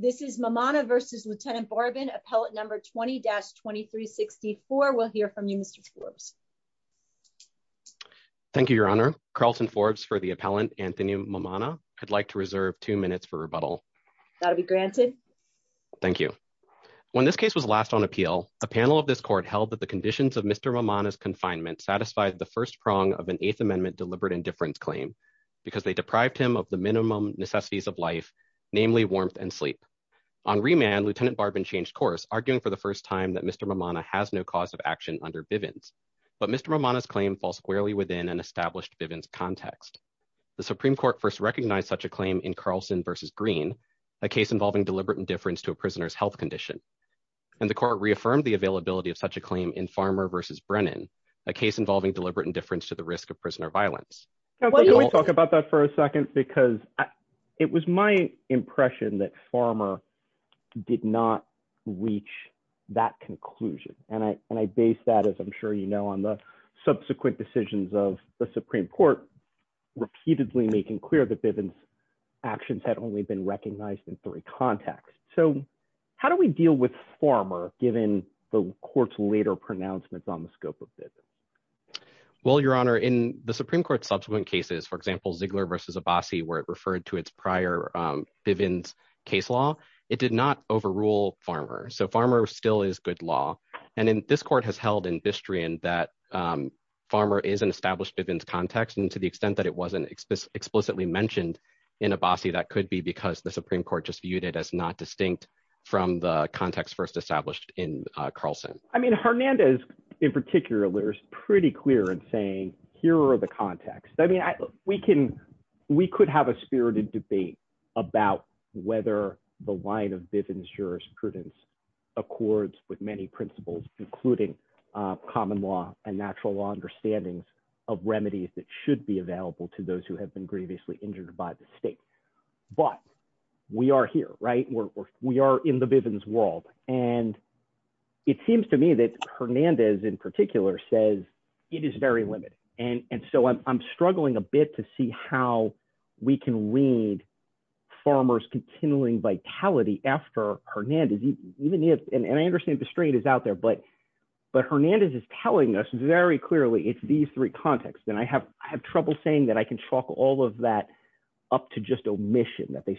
This is Mamana v. Lt. Barben, Appellant No. 20-2364. We'll hear from you, Mr. Forbes. Thank you, Your Honor. Carlton Forbes for the appellant, Anthony Mammana. I'd like to reserve two minutes for rebuttal. That'll be granted. Thank you. When this case was last on appeal, a panel of this court held that the conditions of Mr. Mammana's confinement satisfied the first prong of an Eighth Amendment deliberate indifference claim, because they deprived him of the minimum necessities of life, namely warmth and sleep. On remand, Lt. Barben changed course, arguing for the first time that Mr. Mammana has no cause of action under Bivens. But Mr. Mammana's claim falls squarely within an established Bivens context. The Supreme Court first recognized such a claim in Carlson v. Green, a case involving deliberate indifference to a prisoner's health condition. And the court reaffirmed the availability of such a claim in Farmer v. Brennan, a case involving deliberate indifference to the risk of prisoner violence. Can we talk about that for a second? Because it was my impression that Farmer did not reach that conclusion. And I base that, as I'm sure you know, on the subsequent decisions of the Supreme Court, repeatedly making clear that Bivens' actions had only been recognized in three contexts. So how do we deal with Farmer, given the court's later pronouncements on the scope of Bivens? Well, Your Honor, in the Supreme Court's subsequent cases, for example, Ziegler v. Abbasi, where it referred to its prior Bivens case law, it did not overrule Farmer. So Farmer still is good law. And this court has held in Bistrian that Farmer is an established Bivens context. And to the extent that it wasn't explicitly mentioned in Abbasi, that could be because the Supreme Court just viewed it as not distinct from the context first established in Bivens. So I think Ziegler is pretty clear in saying, here are the contexts. I mean, we could have a spirited debate about whether the line of Bivens jurisprudence accords with many principles, including common law and natural law understandings of remedies that should be available to those who have been grievously injured by the state. But we are here, right? We are in the Bivens world. And it seems to me that Hernandez, in particular, says it is very limited. And so I'm struggling a bit to see how we can read Farmer's continuing vitality after Hernandez, even if, and I understand Bistrian is out there, but Hernandez is telling us very clearly, it's these three contexts. And I have trouble saying that I can chalk all of that up to just omission, that they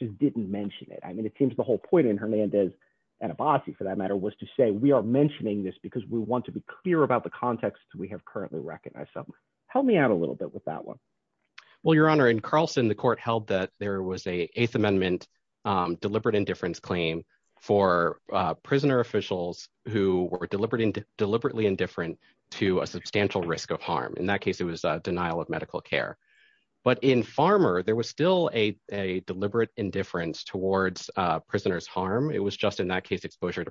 just didn't mention it. I mean, it seems the whole point in Hernandez and Abbasi, for that matter, was to say, we are mentioning this because we want to be clear about the context we have currently recognized. So help me out a little bit with that one. Well, Your Honor, in Carlson, the court held that there was a Eighth Amendment deliberate indifference claim for prisoner officials who were deliberately indifferent to a substantial risk of harm. In that case, it was a denial of deliberate indifference towards prisoners' harm. It was just in that case, exposure to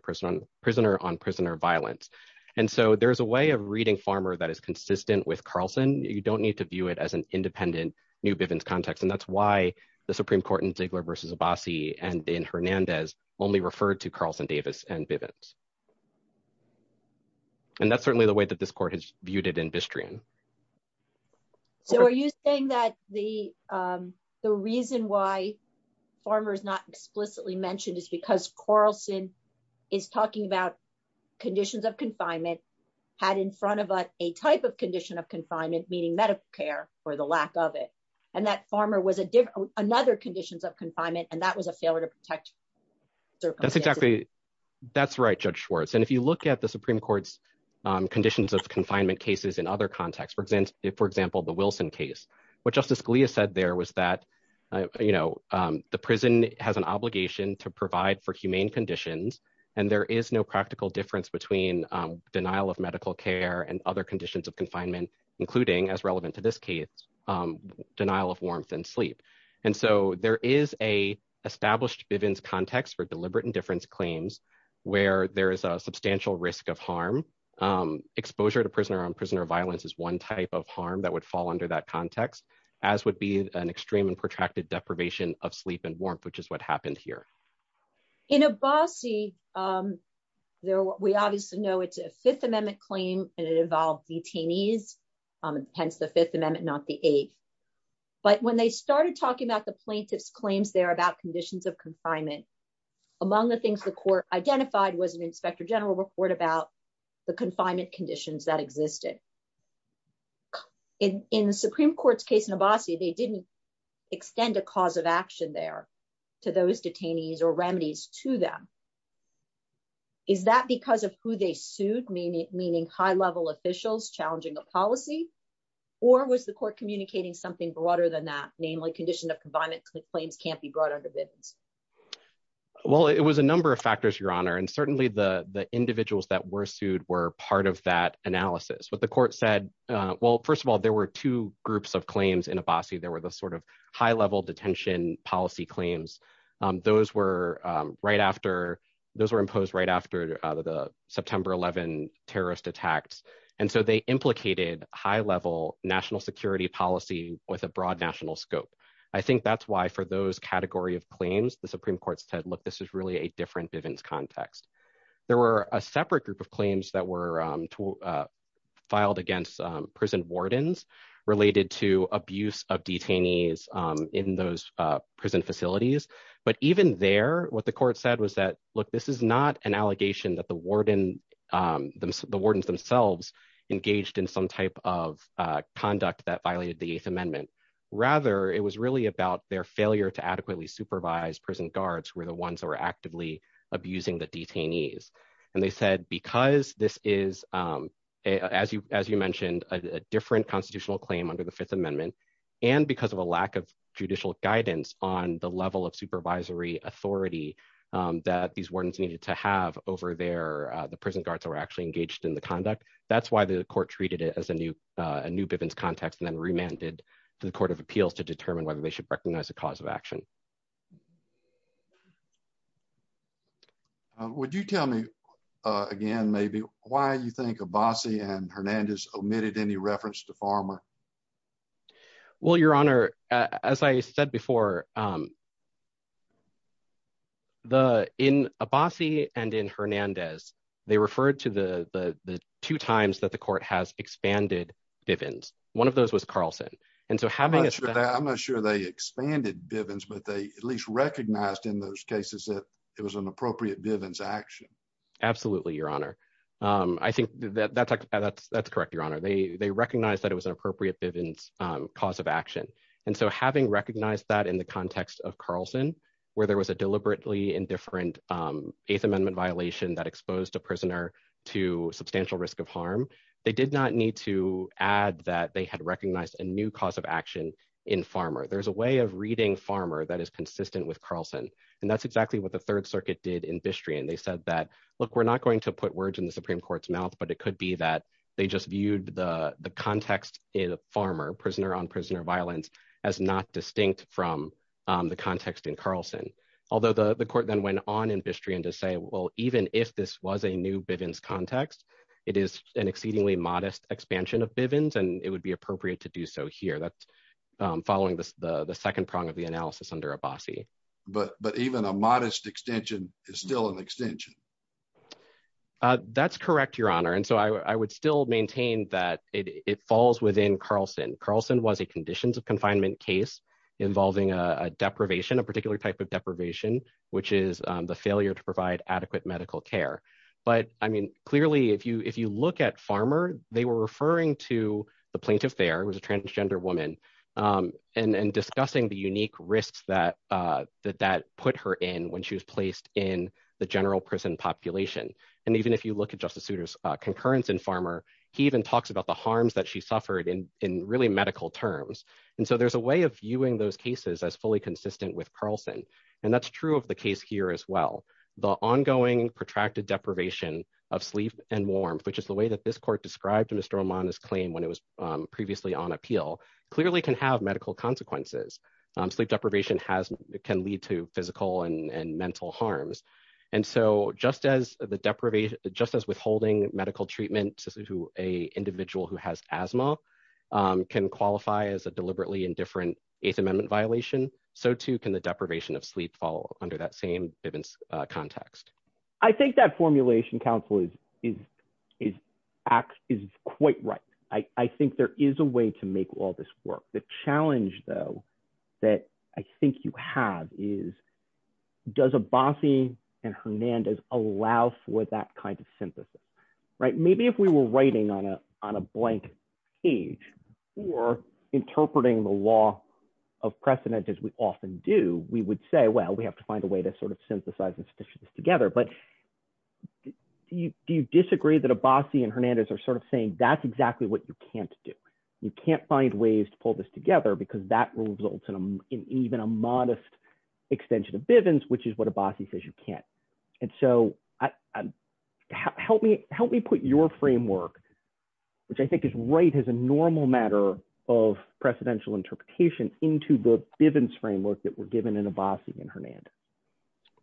prisoner-on-prisoner violence. And so there's a way of reading Farmer that is consistent with Carlson. You don't need to view it as an independent new Bivens context. And that's why the Supreme Court in Ziegler v. Abbasi and in Hernandez only referred to Carlson Davis and Bivens. And that's certainly the way that this court has viewed it in Bistrian. So are you saying that the reason why Farmer is not explicitly mentioned is because Carlson is talking about conditions of confinement, had in front of a type of condition of confinement, meaning medical care for the lack of it, and that Farmer was another conditions of confinement, and that was a failure to protect circumstances? That's right, Judge Schwartz. And if you look at Supreme Court's conditions of confinement cases in other contexts, for example, the Wilson case, what Justice Scalia said there was that the prison has an obligation to provide for humane conditions and there is no practical difference between denial of medical care and other conditions of confinement, including, as relevant to this case, denial of warmth and sleep. And so there is an established Bivens context for deliberate indifference claims where there is a substantial risk of harm. Exposure to prisoner-on-prisoner violence is one type of harm that would fall under that context, as would be an extreme and protracted deprivation of sleep and warmth, which is what happened here. In Abbasi, we obviously know it's a Fifth Amendment claim and it involved detainees, hence the Fifth Amendment, not the Eighth. But when they started talking about the plaintiff's claims there about conditions of confinement, among the things the the confinement conditions that existed. In the Supreme Court's case in Abbasi, they didn't extend a cause of action there to those detainees or remedies to them. Is that because of who they sued, meaning high-level officials challenging a policy, or was the court communicating something broader than that, namely, condition of confinement claims can't be brought under Bivens? Well, it was a number of factors, Your Honor, and certainly the individuals that were sued were part of that analysis. But the court said, well, first of all, there were two groups of claims in Abbasi. There were the sort of high-level detention policy claims. Those were right after, those were imposed right after the September 11 terrorist attacks. And so they implicated high-level national security policy with a broad national scope. I think that's why for those category of claims, the Supreme Court said, look, this is really a different Bivens context. There were a separate group of claims that were filed against prison wardens related to abuse of detainees in those prison facilities. But even there, what the court said was that, look, this is not an allegation that the wardens themselves engaged in some type of conduct that to adequately supervise prison guards were the ones that were actively abusing the detainees. And they said, because this is, as you mentioned, a different constitutional claim under the Fifth Amendment, and because of a lack of judicial guidance on the level of supervisory authority that these wardens needed to have over there, the prison guards were actually engaged in the conduct. That's why the court treated it as a new Bivens context and then remanded to the cause of action. Would you tell me again, maybe, why you think Abbasi and Hernandez omitted any reference to Farmer? Well, Your Honor, as I said before, in Abbasi and in Hernandez, they referred to the two times that the court has expanded Bivens. One those was Carlson. I'm not sure they expanded Bivens, but they at least recognized in those cases that it was an appropriate Bivens action. Absolutely, Your Honor. I think that's correct, Your Honor. They recognized that it was an appropriate Bivens cause of action. And so having recognized that in the context of Carlson, where there was a deliberately indifferent Eighth Amendment violation that exposed a prisoner to substantial risk of harm, they did not need to add that they had recognized a new cause of action in Farmer. There's a way of reading Farmer that is consistent with Carlson. And that's exactly what the Third Circuit did in Bistrian. They said that, look, we're not going to put words in the Supreme Court's mouth, but it could be that they just viewed the context in Farmer, prisoner on prisoner violence, as not distinct from the context in Carlson. Although the court then went on in Bistrian to say, well, even if this was a new Bivens context, it is an exceedingly modest expansion of Bivens, and it would be appropriate to do so here. That's following the second prong of the analysis under Abbasi. But even a modest extension is still an extension. That's correct, Your Honor. And so I would still maintain that it falls within Carlson. Carlson was a conditions of confinement case involving a deprivation, a particular type of deprivation, which is the failure to provide adequate medical care. But, I mean, clearly, if you look at Farmer, they were referring to the plaintiff there, who was a transgender woman, and discussing the unique risks that that put her in when she was placed in the general prison population. And even if you look at Justice Souter's concurrence in Farmer, he even talks about the harms that she suffered in really medical terms. And so there's a way of viewing those cases as fully consistent with the case here as well. The ongoing protracted deprivation of sleep and warmth, which is the way that this court described Mr. Oman's claim when it was previously on appeal, clearly can have medical consequences. Sleep deprivation can lead to physical and mental harms. And so just as the deprivation, just as withholding medical treatment to a individual who has asthma can qualify as a deliberately indifferent Eighth Amendment violation, so too can the deprivation of sleep fall under that same context. I think that formulation, counsel, is quite right. I think there is a way to make all this work. The challenge, though, that I think you have is, does Abbasi and Hernandez allow for that kind of synthesis, right? Maybe if we were writing on a well, we have to find a way to sort of synthesize and stitch this together. But do you disagree that Abbasi and Hernandez are sort of saying that's exactly what you can't do? You can't find ways to pull this together because that results in even a modest extension of Bivens, which is what Abbasi says you can't. And so help me put your framework, which I think is right as a normal matter of precedential interpretation into the Bivens framework that we're given in Hernandez.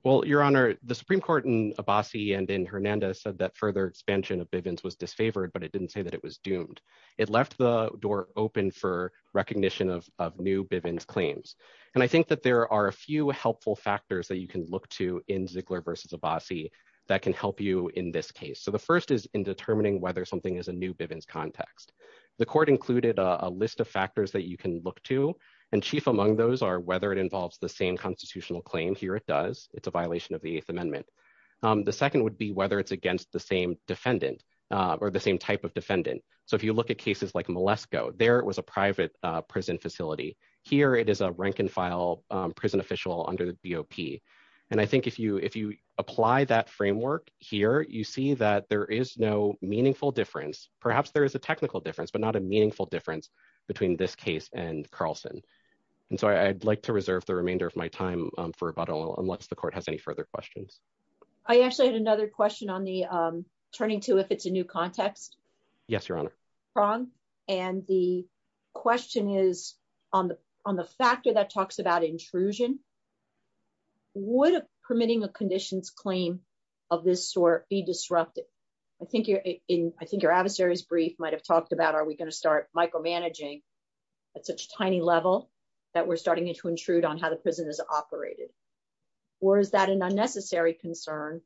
Well, Your Honor, the Supreme Court in Abbasi and in Hernandez said that further expansion of Bivens was disfavored, but it didn't say that it was doomed. It left the door open for recognition of new Bivens claims. And I think that there are a few helpful factors that you can look to in Ziegler versus Abbasi that can help you in this case. So the first is in determining whether something is a new Bivens context. The court included a list of factors that you can look to, and chief among those are whether it involves the same constitutional claim. Here it does. It's a violation of the Eighth Amendment. The second would be whether it's against the same defendant or the same type of defendant. So if you look at cases like Malesko, there it was a private prison facility. Here it is a rank and file prison official under the BOP. And I think if you apply that framework here, you see that there is no meaningful difference. Perhaps there is a technical difference, but not a meaningful difference between this case and Carlson. And so I'd like to reserve the remainder of my time for about a little, unless the court has any further questions. I actually had another question on the turning to, if it's a new context. Yes, Your Honor. Wrong. And the question is on the, on the factor that talks about intrusion, would permitting a conditions claim of this sort be disrupted? I think you're in, are we going to start micromanaging at such tiny level that we're starting to intrude on how the prison is operated? Or is that an unnecessary concern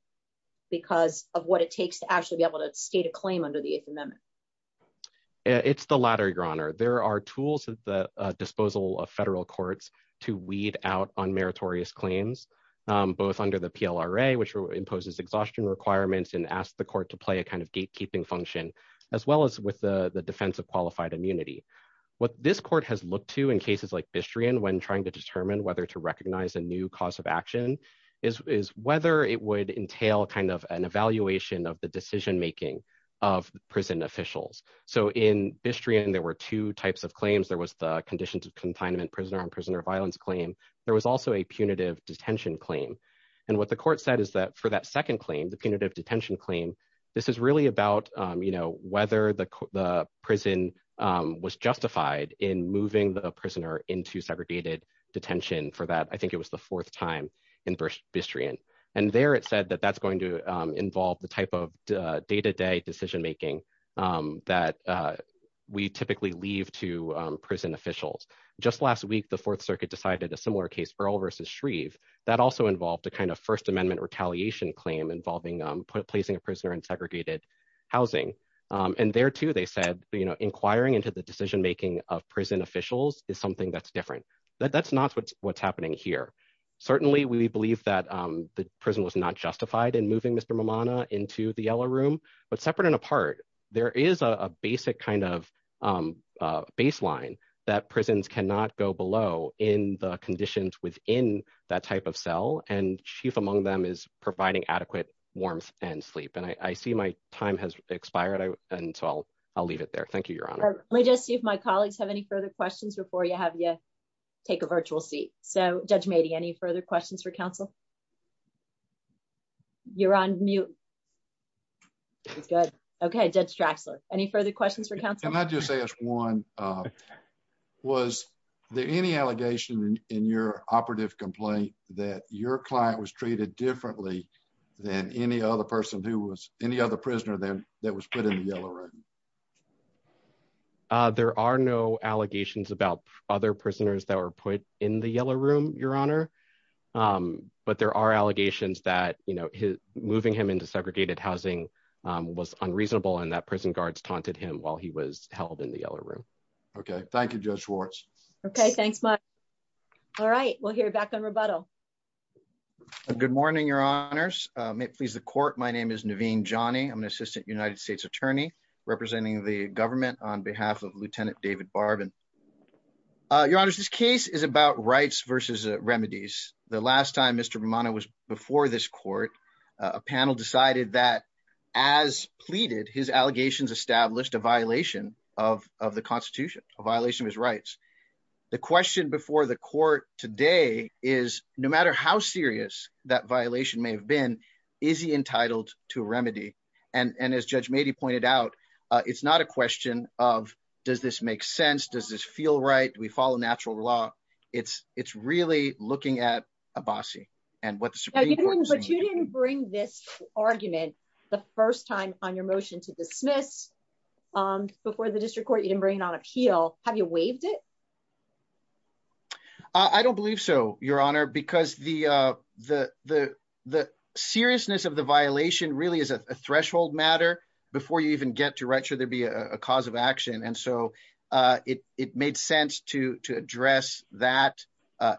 because of what it takes to actually be able to state a claim under the Eighth Amendment? It's the latter, Your Honor. There are tools at the disposal of federal courts to weed out on meritorious claims, both under the PLRA, which imposes exhaustion requirements and asked the court to play a kind of gatekeeping function as well as with the defense of qualified immunity. What this court has looked to in cases like Bistrian, when trying to determine whether to recognize a new cause of action is, is whether it would entail kind of an evaluation of the decision-making of prison officials. So in Bistrian, there were two types of claims. There was the condition to confinement prisoner on prisoner violence claim. There was also a punitive detention claim. And what the court said is that for that second claim, the punitive detention claim, this is really about, you know, whether the prison was justified in moving the prisoner into segregated detention for that. I think it was the fourth time in Bistrian. And there it said that that's going to involve the type of day-to-day decision-making that we typically leave to prison officials. Just last week, the Fourth Circuit decided a similar case for Earl versus Shreve. That also involved a kind of First Classification claim involving placing a prisoner in segregated housing. And there too, they said, you know, inquiring into the decision-making of prison officials is something that's different. That's not what's happening here. Certainly, we believe that the prison was not justified in moving Mr. Momona into the yellow room, but separate and apart, there is a basic kind of baseline that prisons cannot go below in the conditions within that type of cell. And chief among them is providing adequate warmth and sleep. And I see my time has expired. And so I'll leave it there. Thank you, Your Honor. Let me just see if my colleagues have any further questions before I have you take a virtual seat. So Judge Mady, any further questions for counsel? You're on mute. That's good. Okay, Judge Draxler, any further questions for counsel? Can I just ask one? Was there any allegation in your operative complaint that your client was treated differently than any other prisoner that was put in the yellow room? There are no allegations about other prisoners that were put in the yellow room, Your Honor. But there are allegations that, you know, moving him into segregated housing was unreasonable and that prison guards taunted him while he was held in the yellow room. Okay. Thank you, Judge Schwartz. Okay. Thanks, Mike. All right. We'll hear back on rebuttal. Good morning, Your Honors. May it please the court. My name is Naveen Jani. I'm an assistant United States attorney representing the government on behalf of Lieutenant David Barbin. Your Honors, this case is about rights versus remedies. The last time Mr. Bermano was before this court, a panel decided that as pleaded, his allegations established a violation of the Constitution, a violation of his rights. The question before the court today is no matter how serious that violation may have been, is he entitled to remedy? And as Judge Mady pointed out, it's not a question of, does this make sense? Does this feel right? Do we follow natural law? It's really looking at Abbasi and what the Supreme Court is saying. But you didn't bring this argument the first time on your motion to dismiss before the district court. You didn't bring it on appeal. Have you waived it? I don't believe so, Your Honor, because the seriousness of the violation really is a threshold matter before you even get to write sure there'd be a cause of action. And so it made sense to address that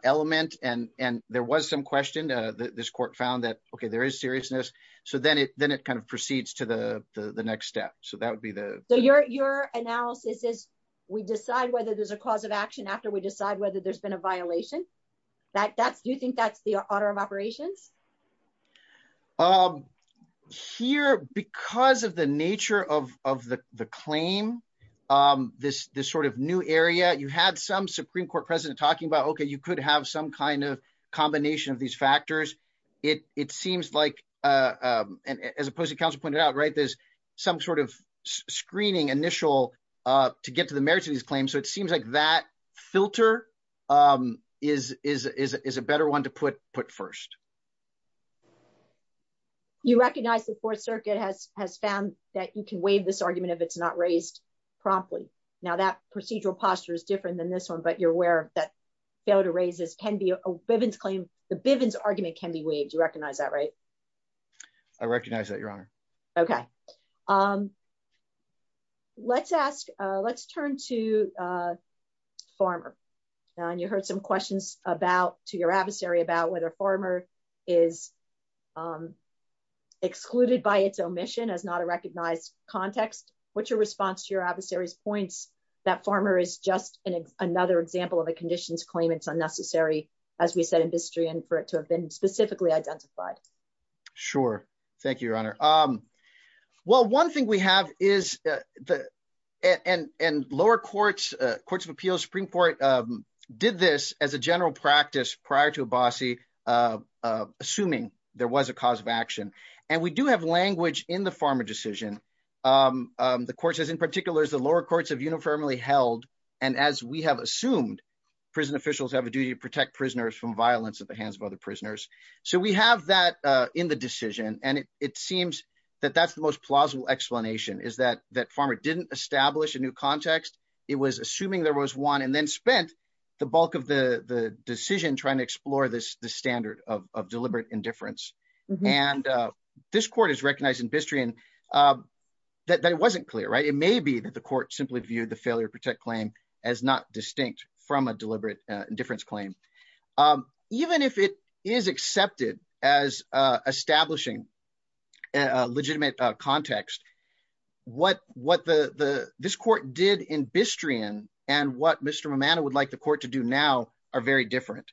element. And there was some question, this court found that, okay, there is seriousness. So then it kind of proceeds to the next step. So that would be the... Your analysis is we decide whether there's a cause of action after we decide whether there's been a violation. Do you think that's the order of operations? Here, because of the nature of the claim, this sort of new area, you had some Supreme Court president talking about, okay, you could have some kind of combination of these factors. It seems like, as a post-counsel pointed out, there's some sort of screening to get to the merits of these claims. So it seems like that filter is a better one to put first. You recognize the Fourth Circuit has found that you can waive this argument if it's not raised promptly. Now that procedural posture is different than this one, but you're aware that fail to raise this can be a Bivens claim. The Bivens argument can be waived. You recognize that, right? I recognize that, Your Honor. Okay. Let's turn to Farmer. You heard some questions to your adversary about whether Farmer is excluded by its omission as not a recognized context. What's your response to your adversary's points that Farmer is just another example of a conditions claim it's unnecessary, as we said in history, and for it to have been specifically identified? Sure. Thank you, Your Honor. Well, one thing we have is, and lower courts, courts of appeals, Supreme Court did this as a general practice prior to Abbasi, assuming there was a cause of action. And we do have language in the Farmer decision. The court says, in particular, the lower courts have uniformly held, and as we have assumed, prison officials have a duty to protect prisoners from violence at the hands of other prisoners. So we have that in the decision. And it seems that that's the most plausible explanation, is that Farmer didn't establish a new context. It was assuming there was one, and then spent the bulk of the decision trying to explore this standard of deliberate indifference. And this court has recognized in history that it wasn't clear, right? It may be that the court simply viewed the failure to protect claim as not distinct from a deliberate indifference claim. Even if it is accepted as establishing a legitimate context, what this court did in Bistrian and what Mr. Momada would like the court to do now are very different.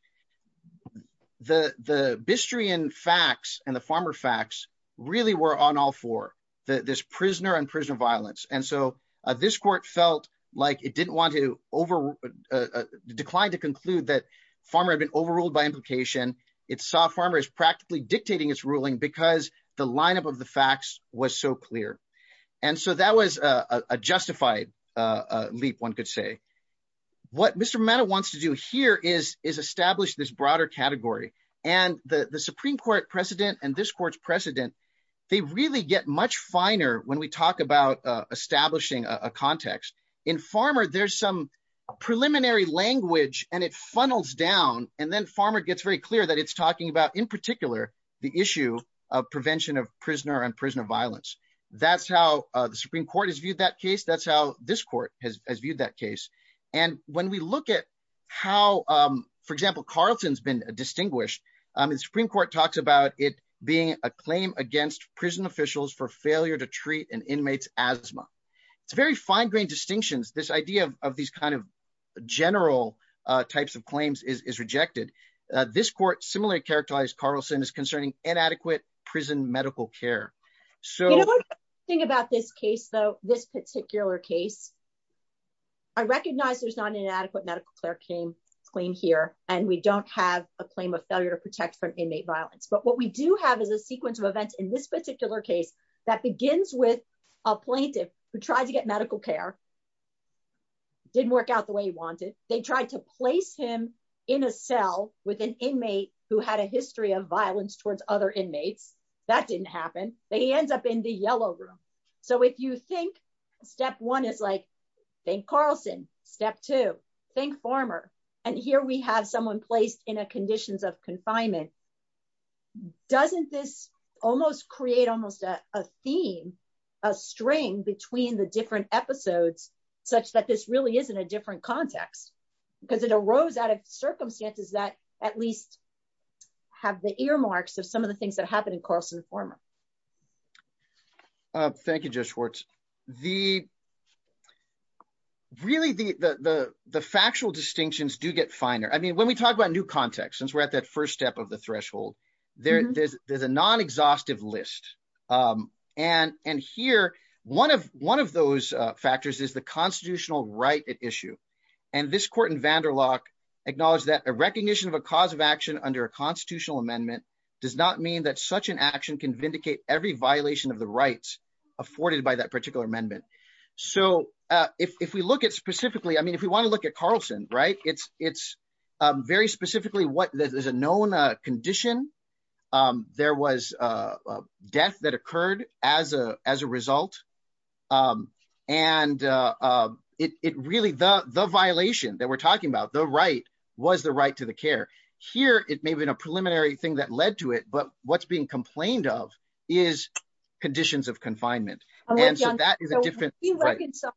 The Bistrian facts and the Farmer facts really were on all four, this prisoner and prisoner violence. And so this court felt like it didn't want to decline to conclude that Farmer had been overruled by implication. It saw Farmer as practically dictating its ruling because the lineup of the facts was so clear. And so that was a justified leap, one could say. What Mr. Momada wants to do here is establish this broader category. And the Supreme Court precedent and this court's precedent, they really get much finer when we talk about establishing a context. In Farmer, there's some preliminary language, and it funnels down. And then Farmer gets very clear that it's talking about, in particular, the issue of prevention of prisoner and prisoner violence. That's how the Supreme Court has viewed that case. That's how this court has viewed that case. And when we look at how, for example, Carlson's been distinguished, the Supreme Court talks about it being a claim against prison officials for failure to treat an inmate's asthma. It's very fine-grained distinctions. This idea of these kind of general types of claims is rejected. This court similarly characterized Carlson as concerning inadequate prison medical care. So think about this case, though, this particular case. I recognize there's not an inadequate medical care claim here, and we don't have a claim of failure to protect from inmate violence. But what we do have is a sequence of events in this particular case that begins with a plaintiff who tried to get medical care, didn't work out the way he wanted. They tried to place him in a cell with an inmate who had a history of violence towards other inmates. That didn't happen. But he ends up in the yellow room. So if you think step one is like, thank Carlson. Step two, thank Farmer. And here we have someone placed in a conditions of confinement. Doesn't this almost create almost a theme, a string between the different episodes, such that this really is in a different context? Because it arose out of circumstances that at least have the earmarks of some of the things that happened in Carlson and Farmer. Thank you, Judge Schwartz. Really, the factual distinctions do get finer. I mean, when we talk about new context, since we're at that first step of the threshold, there's a non-exhaustive list. And here, one of those factors is the constitutional right at issue. And this court in Vanderloch acknowledged that a recognition of a cause of action under a can vindicate every violation of the rights afforded by that particular amendment. So if we look at specifically, I mean, if we want to look at Carlson, it's very specifically what is a known condition. There was a death that occurred as a result. And it really, the violation that we're talking about, the right was the right to the care. Here, it may have been a preliminary thing that led to it, but what's being complained of is conditions of confinement. And so that is a different- So how do you reconcile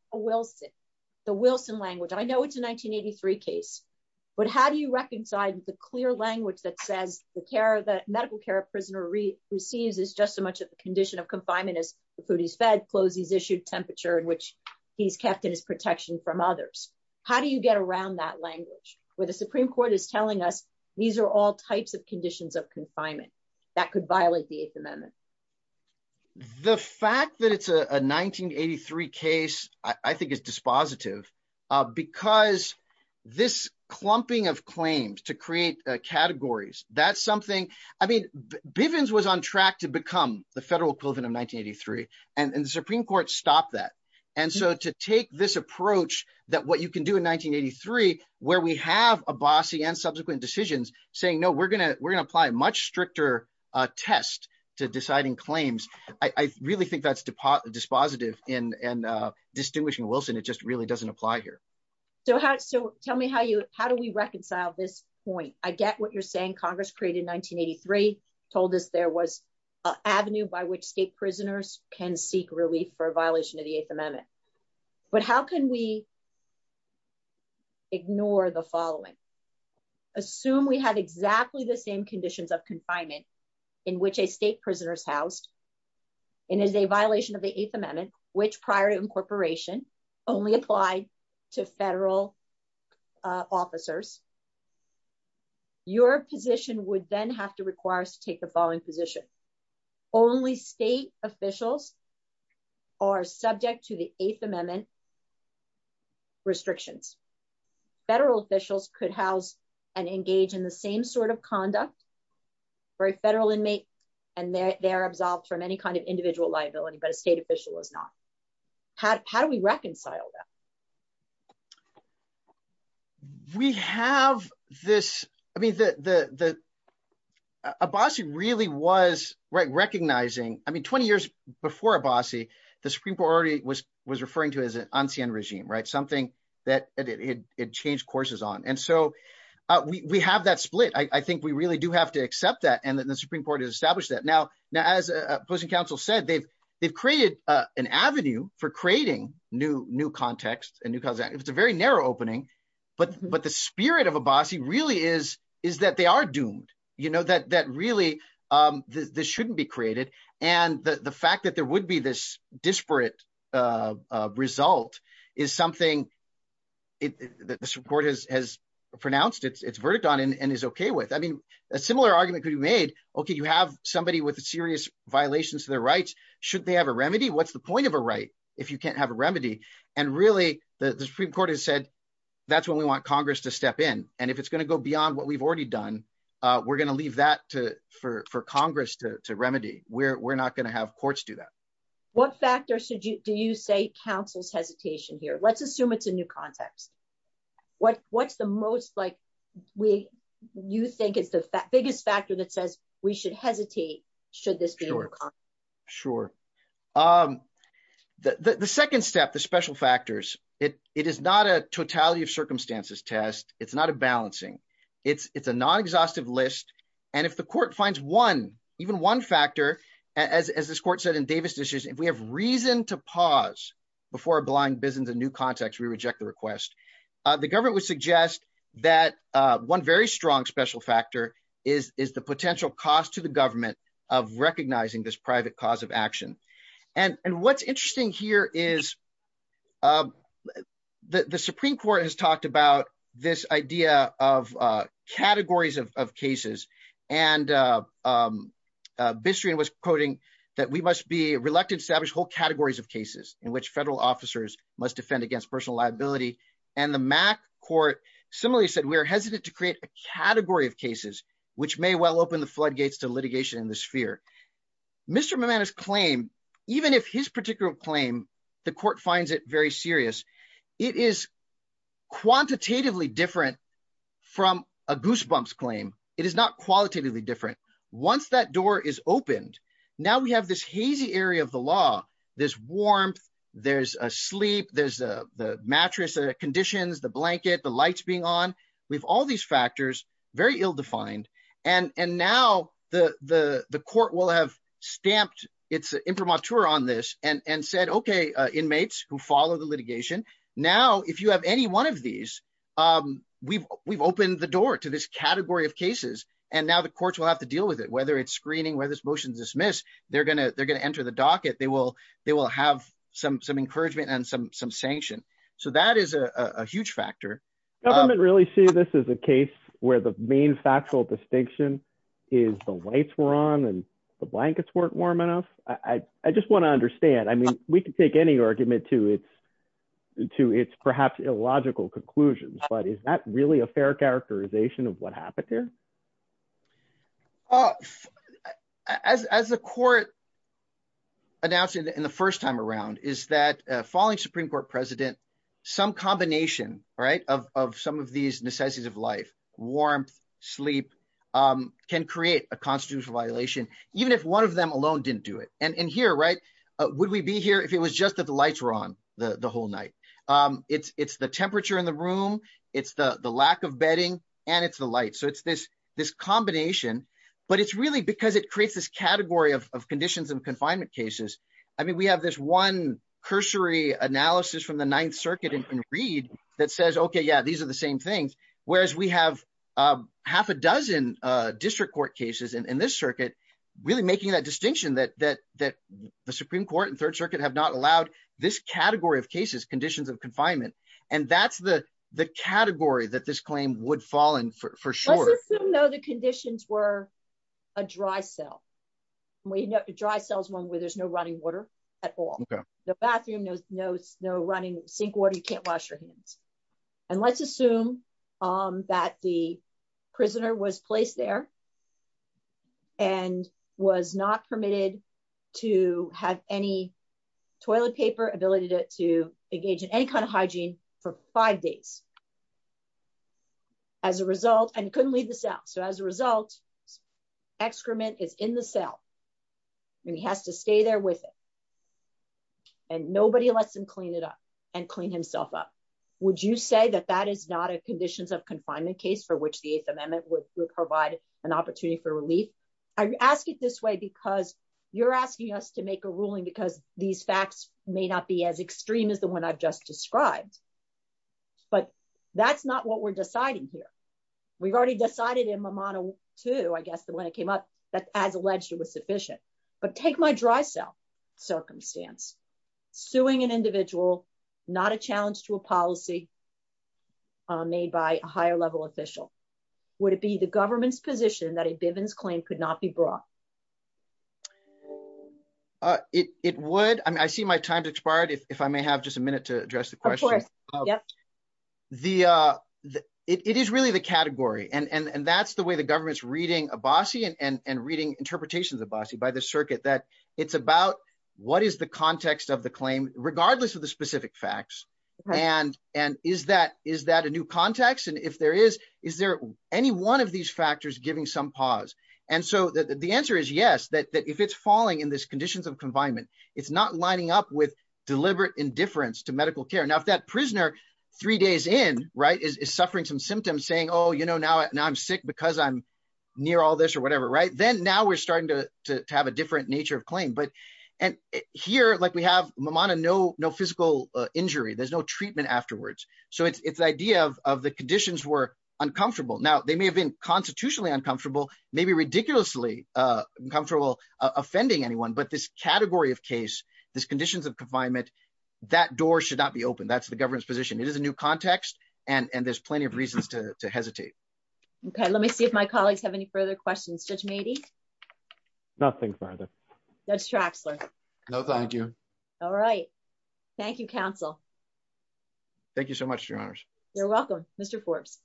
the Wilson language? I know it's a 1983 case, but how do you reconcile the clear language that says the medical care a prisoner receives is just as much of a condition of confinement as the food he's fed, clothes he's issued, temperature in which he's kept, and his protection from others? How do you get around that language, where the Supreme Court is telling us these are all types of conditions of confinement that could violate the Eighth Amendment? The fact that it's a 1983 case, I think is dispositive, because this clumping of claims to create categories, that's something, I mean, Bivens was on track to become the federal equivalent of 1983, and the Supreme Court stopped that. And so to take this approach that what you can do in subsequent decisions, saying, no, we're going to apply a much stricter test to deciding claims, I really think that's dispositive in distinguishing Wilson. It just really doesn't apply here. So tell me, how do we reconcile this point? I get what you're saying, Congress created 1983, told us there was an avenue by which state prisoners can seek relief for a violation of the Eighth Amendment. But how can we ignore the following? Assume we have exactly the same conditions of confinement, in which a state prisoner is housed, and is a violation of the Eighth Amendment, which prior to incorporation, only applied to federal officers. Your position would then have to require us to take the following position. Only state officials are subject to the Eighth Amendment restrictions. Federal officials could house and engage in the same sort of conduct for a federal inmate, and they're absolved from any kind of individual liability, but a state official is not. How do we reconcile that? We have this, I mean, Abassi really was recognizing, I mean, 20 years before Abassi, the Supreme Court already was referring to it as an Ancien Regime, right? Something that it changed courses on. And so we have that split. I think we really do have to accept that, and the Supreme Court has established that. Now, as opposing counsel said, they've created an avenue for creating new contexts and new causes. It's a very narrow opening, but the spirit of Abassi really is that they are doomed, that really, this shouldn't be created. And the fact that there would be this disparate result is something that the Supreme Court has pronounced its verdict on and is okay with. I mean, a similar argument could be made, okay, have somebody with a serious violation to their rights, should they have a remedy? What's the point of a right if you can't have a remedy? And really, the Supreme Court has said, that's when we want Congress to step in. And if it's going to go beyond what we've already done, we're going to leave that for Congress to remedy. We're not going to have courts do that. What factors do you say counsel's hesitation here? Let's assume it's a new context. What's the most, like, you think is the biggest factor that says we should hesitate, should this be a new context? Sure. The second step, the special factors, it is not a totality of circumstances test. It's not a balancing. It's a non-exhaustive list. And if the court finds one, even one factor, as this court said in Davis Dishes, if we have reason to pause before a blind business and new context, we reject the request. The government would suggest that one very strong special factor is the potential cost to the government of recognizing this private cause of action. And what's interesting here is the Supreme Court has talked about this idea of categories of cases. And Bistrian was quoting that we must be reluctant to establish whole categories of cases in which federal officers must defend against personal liability. And the MAC court similarly said, we are hesitant to create a category of cases which may well open the floodgates to litigation in this sphere. Mr. Momena's claim, even if his particular claim, the court finds it very serious, it is quantitatively different from a goosebumps claim. It is not qualitatively different. Once that door is opened, now we have this hazy area of the law, this warmth, there's a sleep, there's the mattress, the conditions, the blanket, the lights being on. We have all these factors, very ill-defined. And now the court will have stamped its imprimatur on this and said, okay, inmates who follow the litigation, now, if you have any one of these, we've opened the door to this category of cases. And now the courts will have to deal with it, whether it's screening, whether it's motion dismiss, they're going to enter the docket. They will have some encouragement and some sanction. So that is a huge factor. Government really see this as a case where the main factual distinction is the lights were on and the blankets weren't warm enough? I just want to understand. I mean, we can take any argument to its perhaps illogical conclusions, but is that really a fair characterization of what happened here? As the court announced in the first time around is that following Supreme Court president, some combination of some of these necessities of life, warmth, sleep, can create a constitutional violation, even if one of them alone didn't do it. And here, right? Would we be here if it was just that the lights were on the whole night? It's the temperature in the room. It's the lack of bedding and it's the light. So it's this combination, but it's really because it creates this category of conditions and confinement cases. I mean, we have this one cursory analysis from the ninth circuit in Reed that says, okay, yeah, these are the same things. Whereas we have half a dozen district court cases in this circuit, really making that distinction that the Supreme Court and third circuit have not allowed this category of cases, conditions of confinement. And that's the category that this claim would fall in for sure. Let's assume though the conditions were a dry cell. A dry cell is one where there's no running water at all. The bathroom, no running sink water, you can't wash your hands. And let's assume that the prisoner was placed there and was not permitted to have any toilet paper ability to engage in any kind of hygiene for five days as a result and couldn't leave the cell. So as a result, excrement is in the cell and he has to stay there with it and nobody lets him clean it up and clean himself up. Would you say that that is not a conditions of confinement case for which the eighth amendment would provide an opportunity for relief? I ask it this way because you're asking us to make a ruling because these facts may not be as extreme as the one I've just described, but that's not what we're deciding here. We've already decided in my model too, I guess the one that came up that as alleged it was sufficient, but take my dry cell circumstance, suing an individual, not a challenge to a policy made by a higher level official. Would it be the government's position that a Bivens claim could not be brought? It would. I mean, I see my time's expired if I may have just a minute to address the question. It is really the category and that's the way the government's reading Abassi and reading interpretations of Abassi by the circuit that it's about what is the context of the claim regardless of the specific facts. And is that a new context? And if there is, is there any one of these factors giving some pause? And so the answer is yes, that if it's falling in this conditions of confinement, it's not lining up with deliberate indifference to medical care. Now, if that prisoner three days in is suffering some symptoms saying, oh, now I'm sick because I'm near all this or whatever, then now we're in a different nature of claim. But here, like we have no physical injury, there's no treatment afterwards. So it's the idea of the conditions were uncomfortable. Now they may have been constitutionally uncomfortable, maybe ridiculously uncomfortable offending anyone, but this category of case, this conditions of confinement, that door should not be open. That's the government's position. It is a new context and there's plenty of reasons to hesitate. Okay. Let me see if my That's Traxler. No, thank you. All right. Thank you, counsel. Thank you so much, your honors. You're welcome. Mr. Forbes.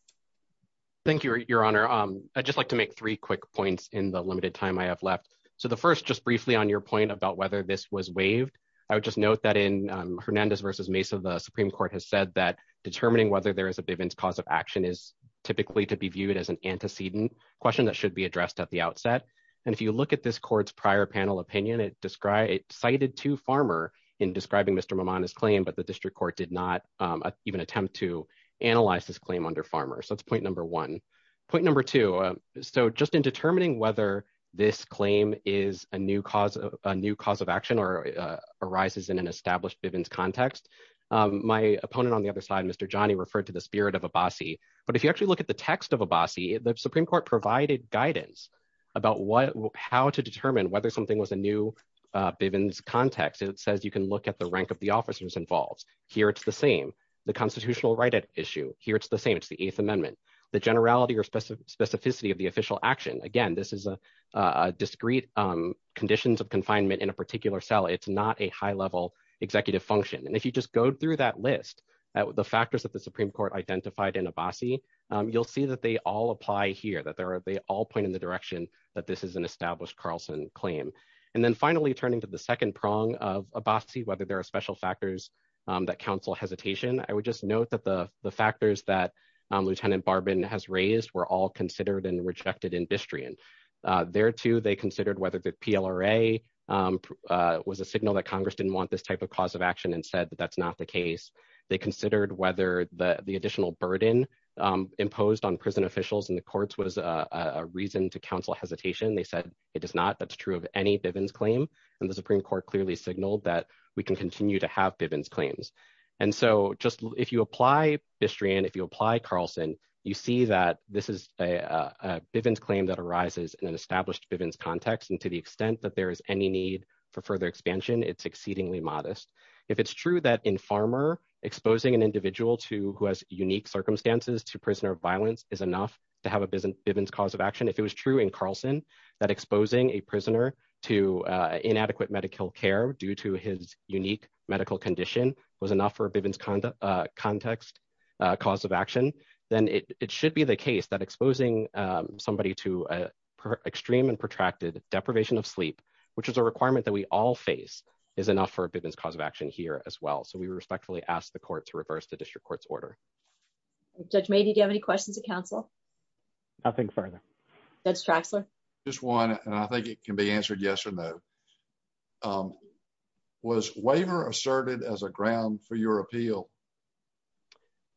Thank you, your honor. I just like to make three quick points in the limited time I have left. So the first, just briefly on your point about whether this was waived, I would just note that in Hernandez versus Mesa, the Supreme court has said that determining whether there is a Bivens cause of action is typically to be viewed as an antecedent question that should be addressed at the outset. And if you look at this court's prior panel opinion, it described it cited to farmer in describing Mr. Momona's claim, but the district court did not even attempt to analyze this claim under farmer. So that's point number one, point number two. So just in determining whether this claim is a new cause of a new cause of action or arises in an established Bivens context, my opponent on the other side, Mr. Johnny referred to the spirit of a bossy. But if you actually look at the text of a bossy, the Supreme court provided guidance about what, how to determine whether something was a new Bivens context. And it says, you can look at the rank of the officers involved here. It's the same, the constitutional right at issue here. It's the same. It's the eighth amendment, the generality or specific specificity of the official action. Again, this is a discreet conditions of confinement in a particular cell. It's not a high level executive function. And if you just go through that list, the factors that the Supreme court identified in a bossy, you'll see that they all apply here, that there are, they all point in the direction that this is an established Carlson claim. And then finally turning to the second prong of a bossy, whether there are special factors that counsel hesitation, I would just note that the factors that Lieutenant Barbin has raised were all considered and rejected industry. And there too, they considered whether the PLRA was a signal that Congress didn't want this a cause of action and said that that's not the case. They considered whether the additional burden imposed on prison officials and the courts was a reason to counsel hesitation. They said it does not, that's true of any Bivens claim. And the Supreme court clearly signaled that we can continue to have Bivens claims. And so just if you apply history, and if you apply Carlson, you see that this is a Bivens claim that arises in an established context. And to the extent that there is any need for further expansion, it's exceedingly modest. If it's true that in farmer exposing an individual to who has unique circumstances to prisoner of violence is enough to have a business Bivens cause of action. If it was true in Carlson, that exposing a prisoner to inadequate medical care due to his unique medical condition was enough for a Bivens conduct context cause of action, then it should be the case that exposing somebody to extreme and protracted deprivation of sleep, which is a requirement that we all face is enough for a Bivens cause of action here as well. So we respectfully ask the court to reverse the district court's order. Judge made. Did you have any questions to counsel? Nothing further. That's Traxler. Just one. And I think it can be answered yes or no. Was waiver asserted as a ground for your appeal?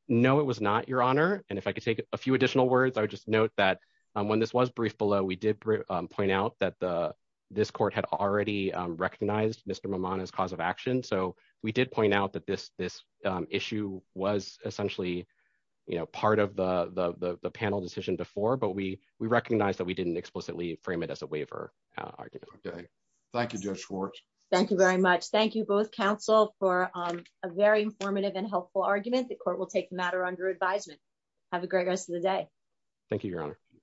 No, it was not, Your Honor. And if I could take a few additional words, I would just note that when this was briefed below, we did point out that this court had already recognized Mr. Momona's cause of action. So we did point out that this issue was essentially part of the panel decision before, but we recognized that we didn't explicitly frame it as a waiver argument. Okay. Thank you, Judge Schwartz. Thank you very much. Thank you both counsel for a very informative and helpful argument. The court will take the matter under advisement. Have a great rest of the day.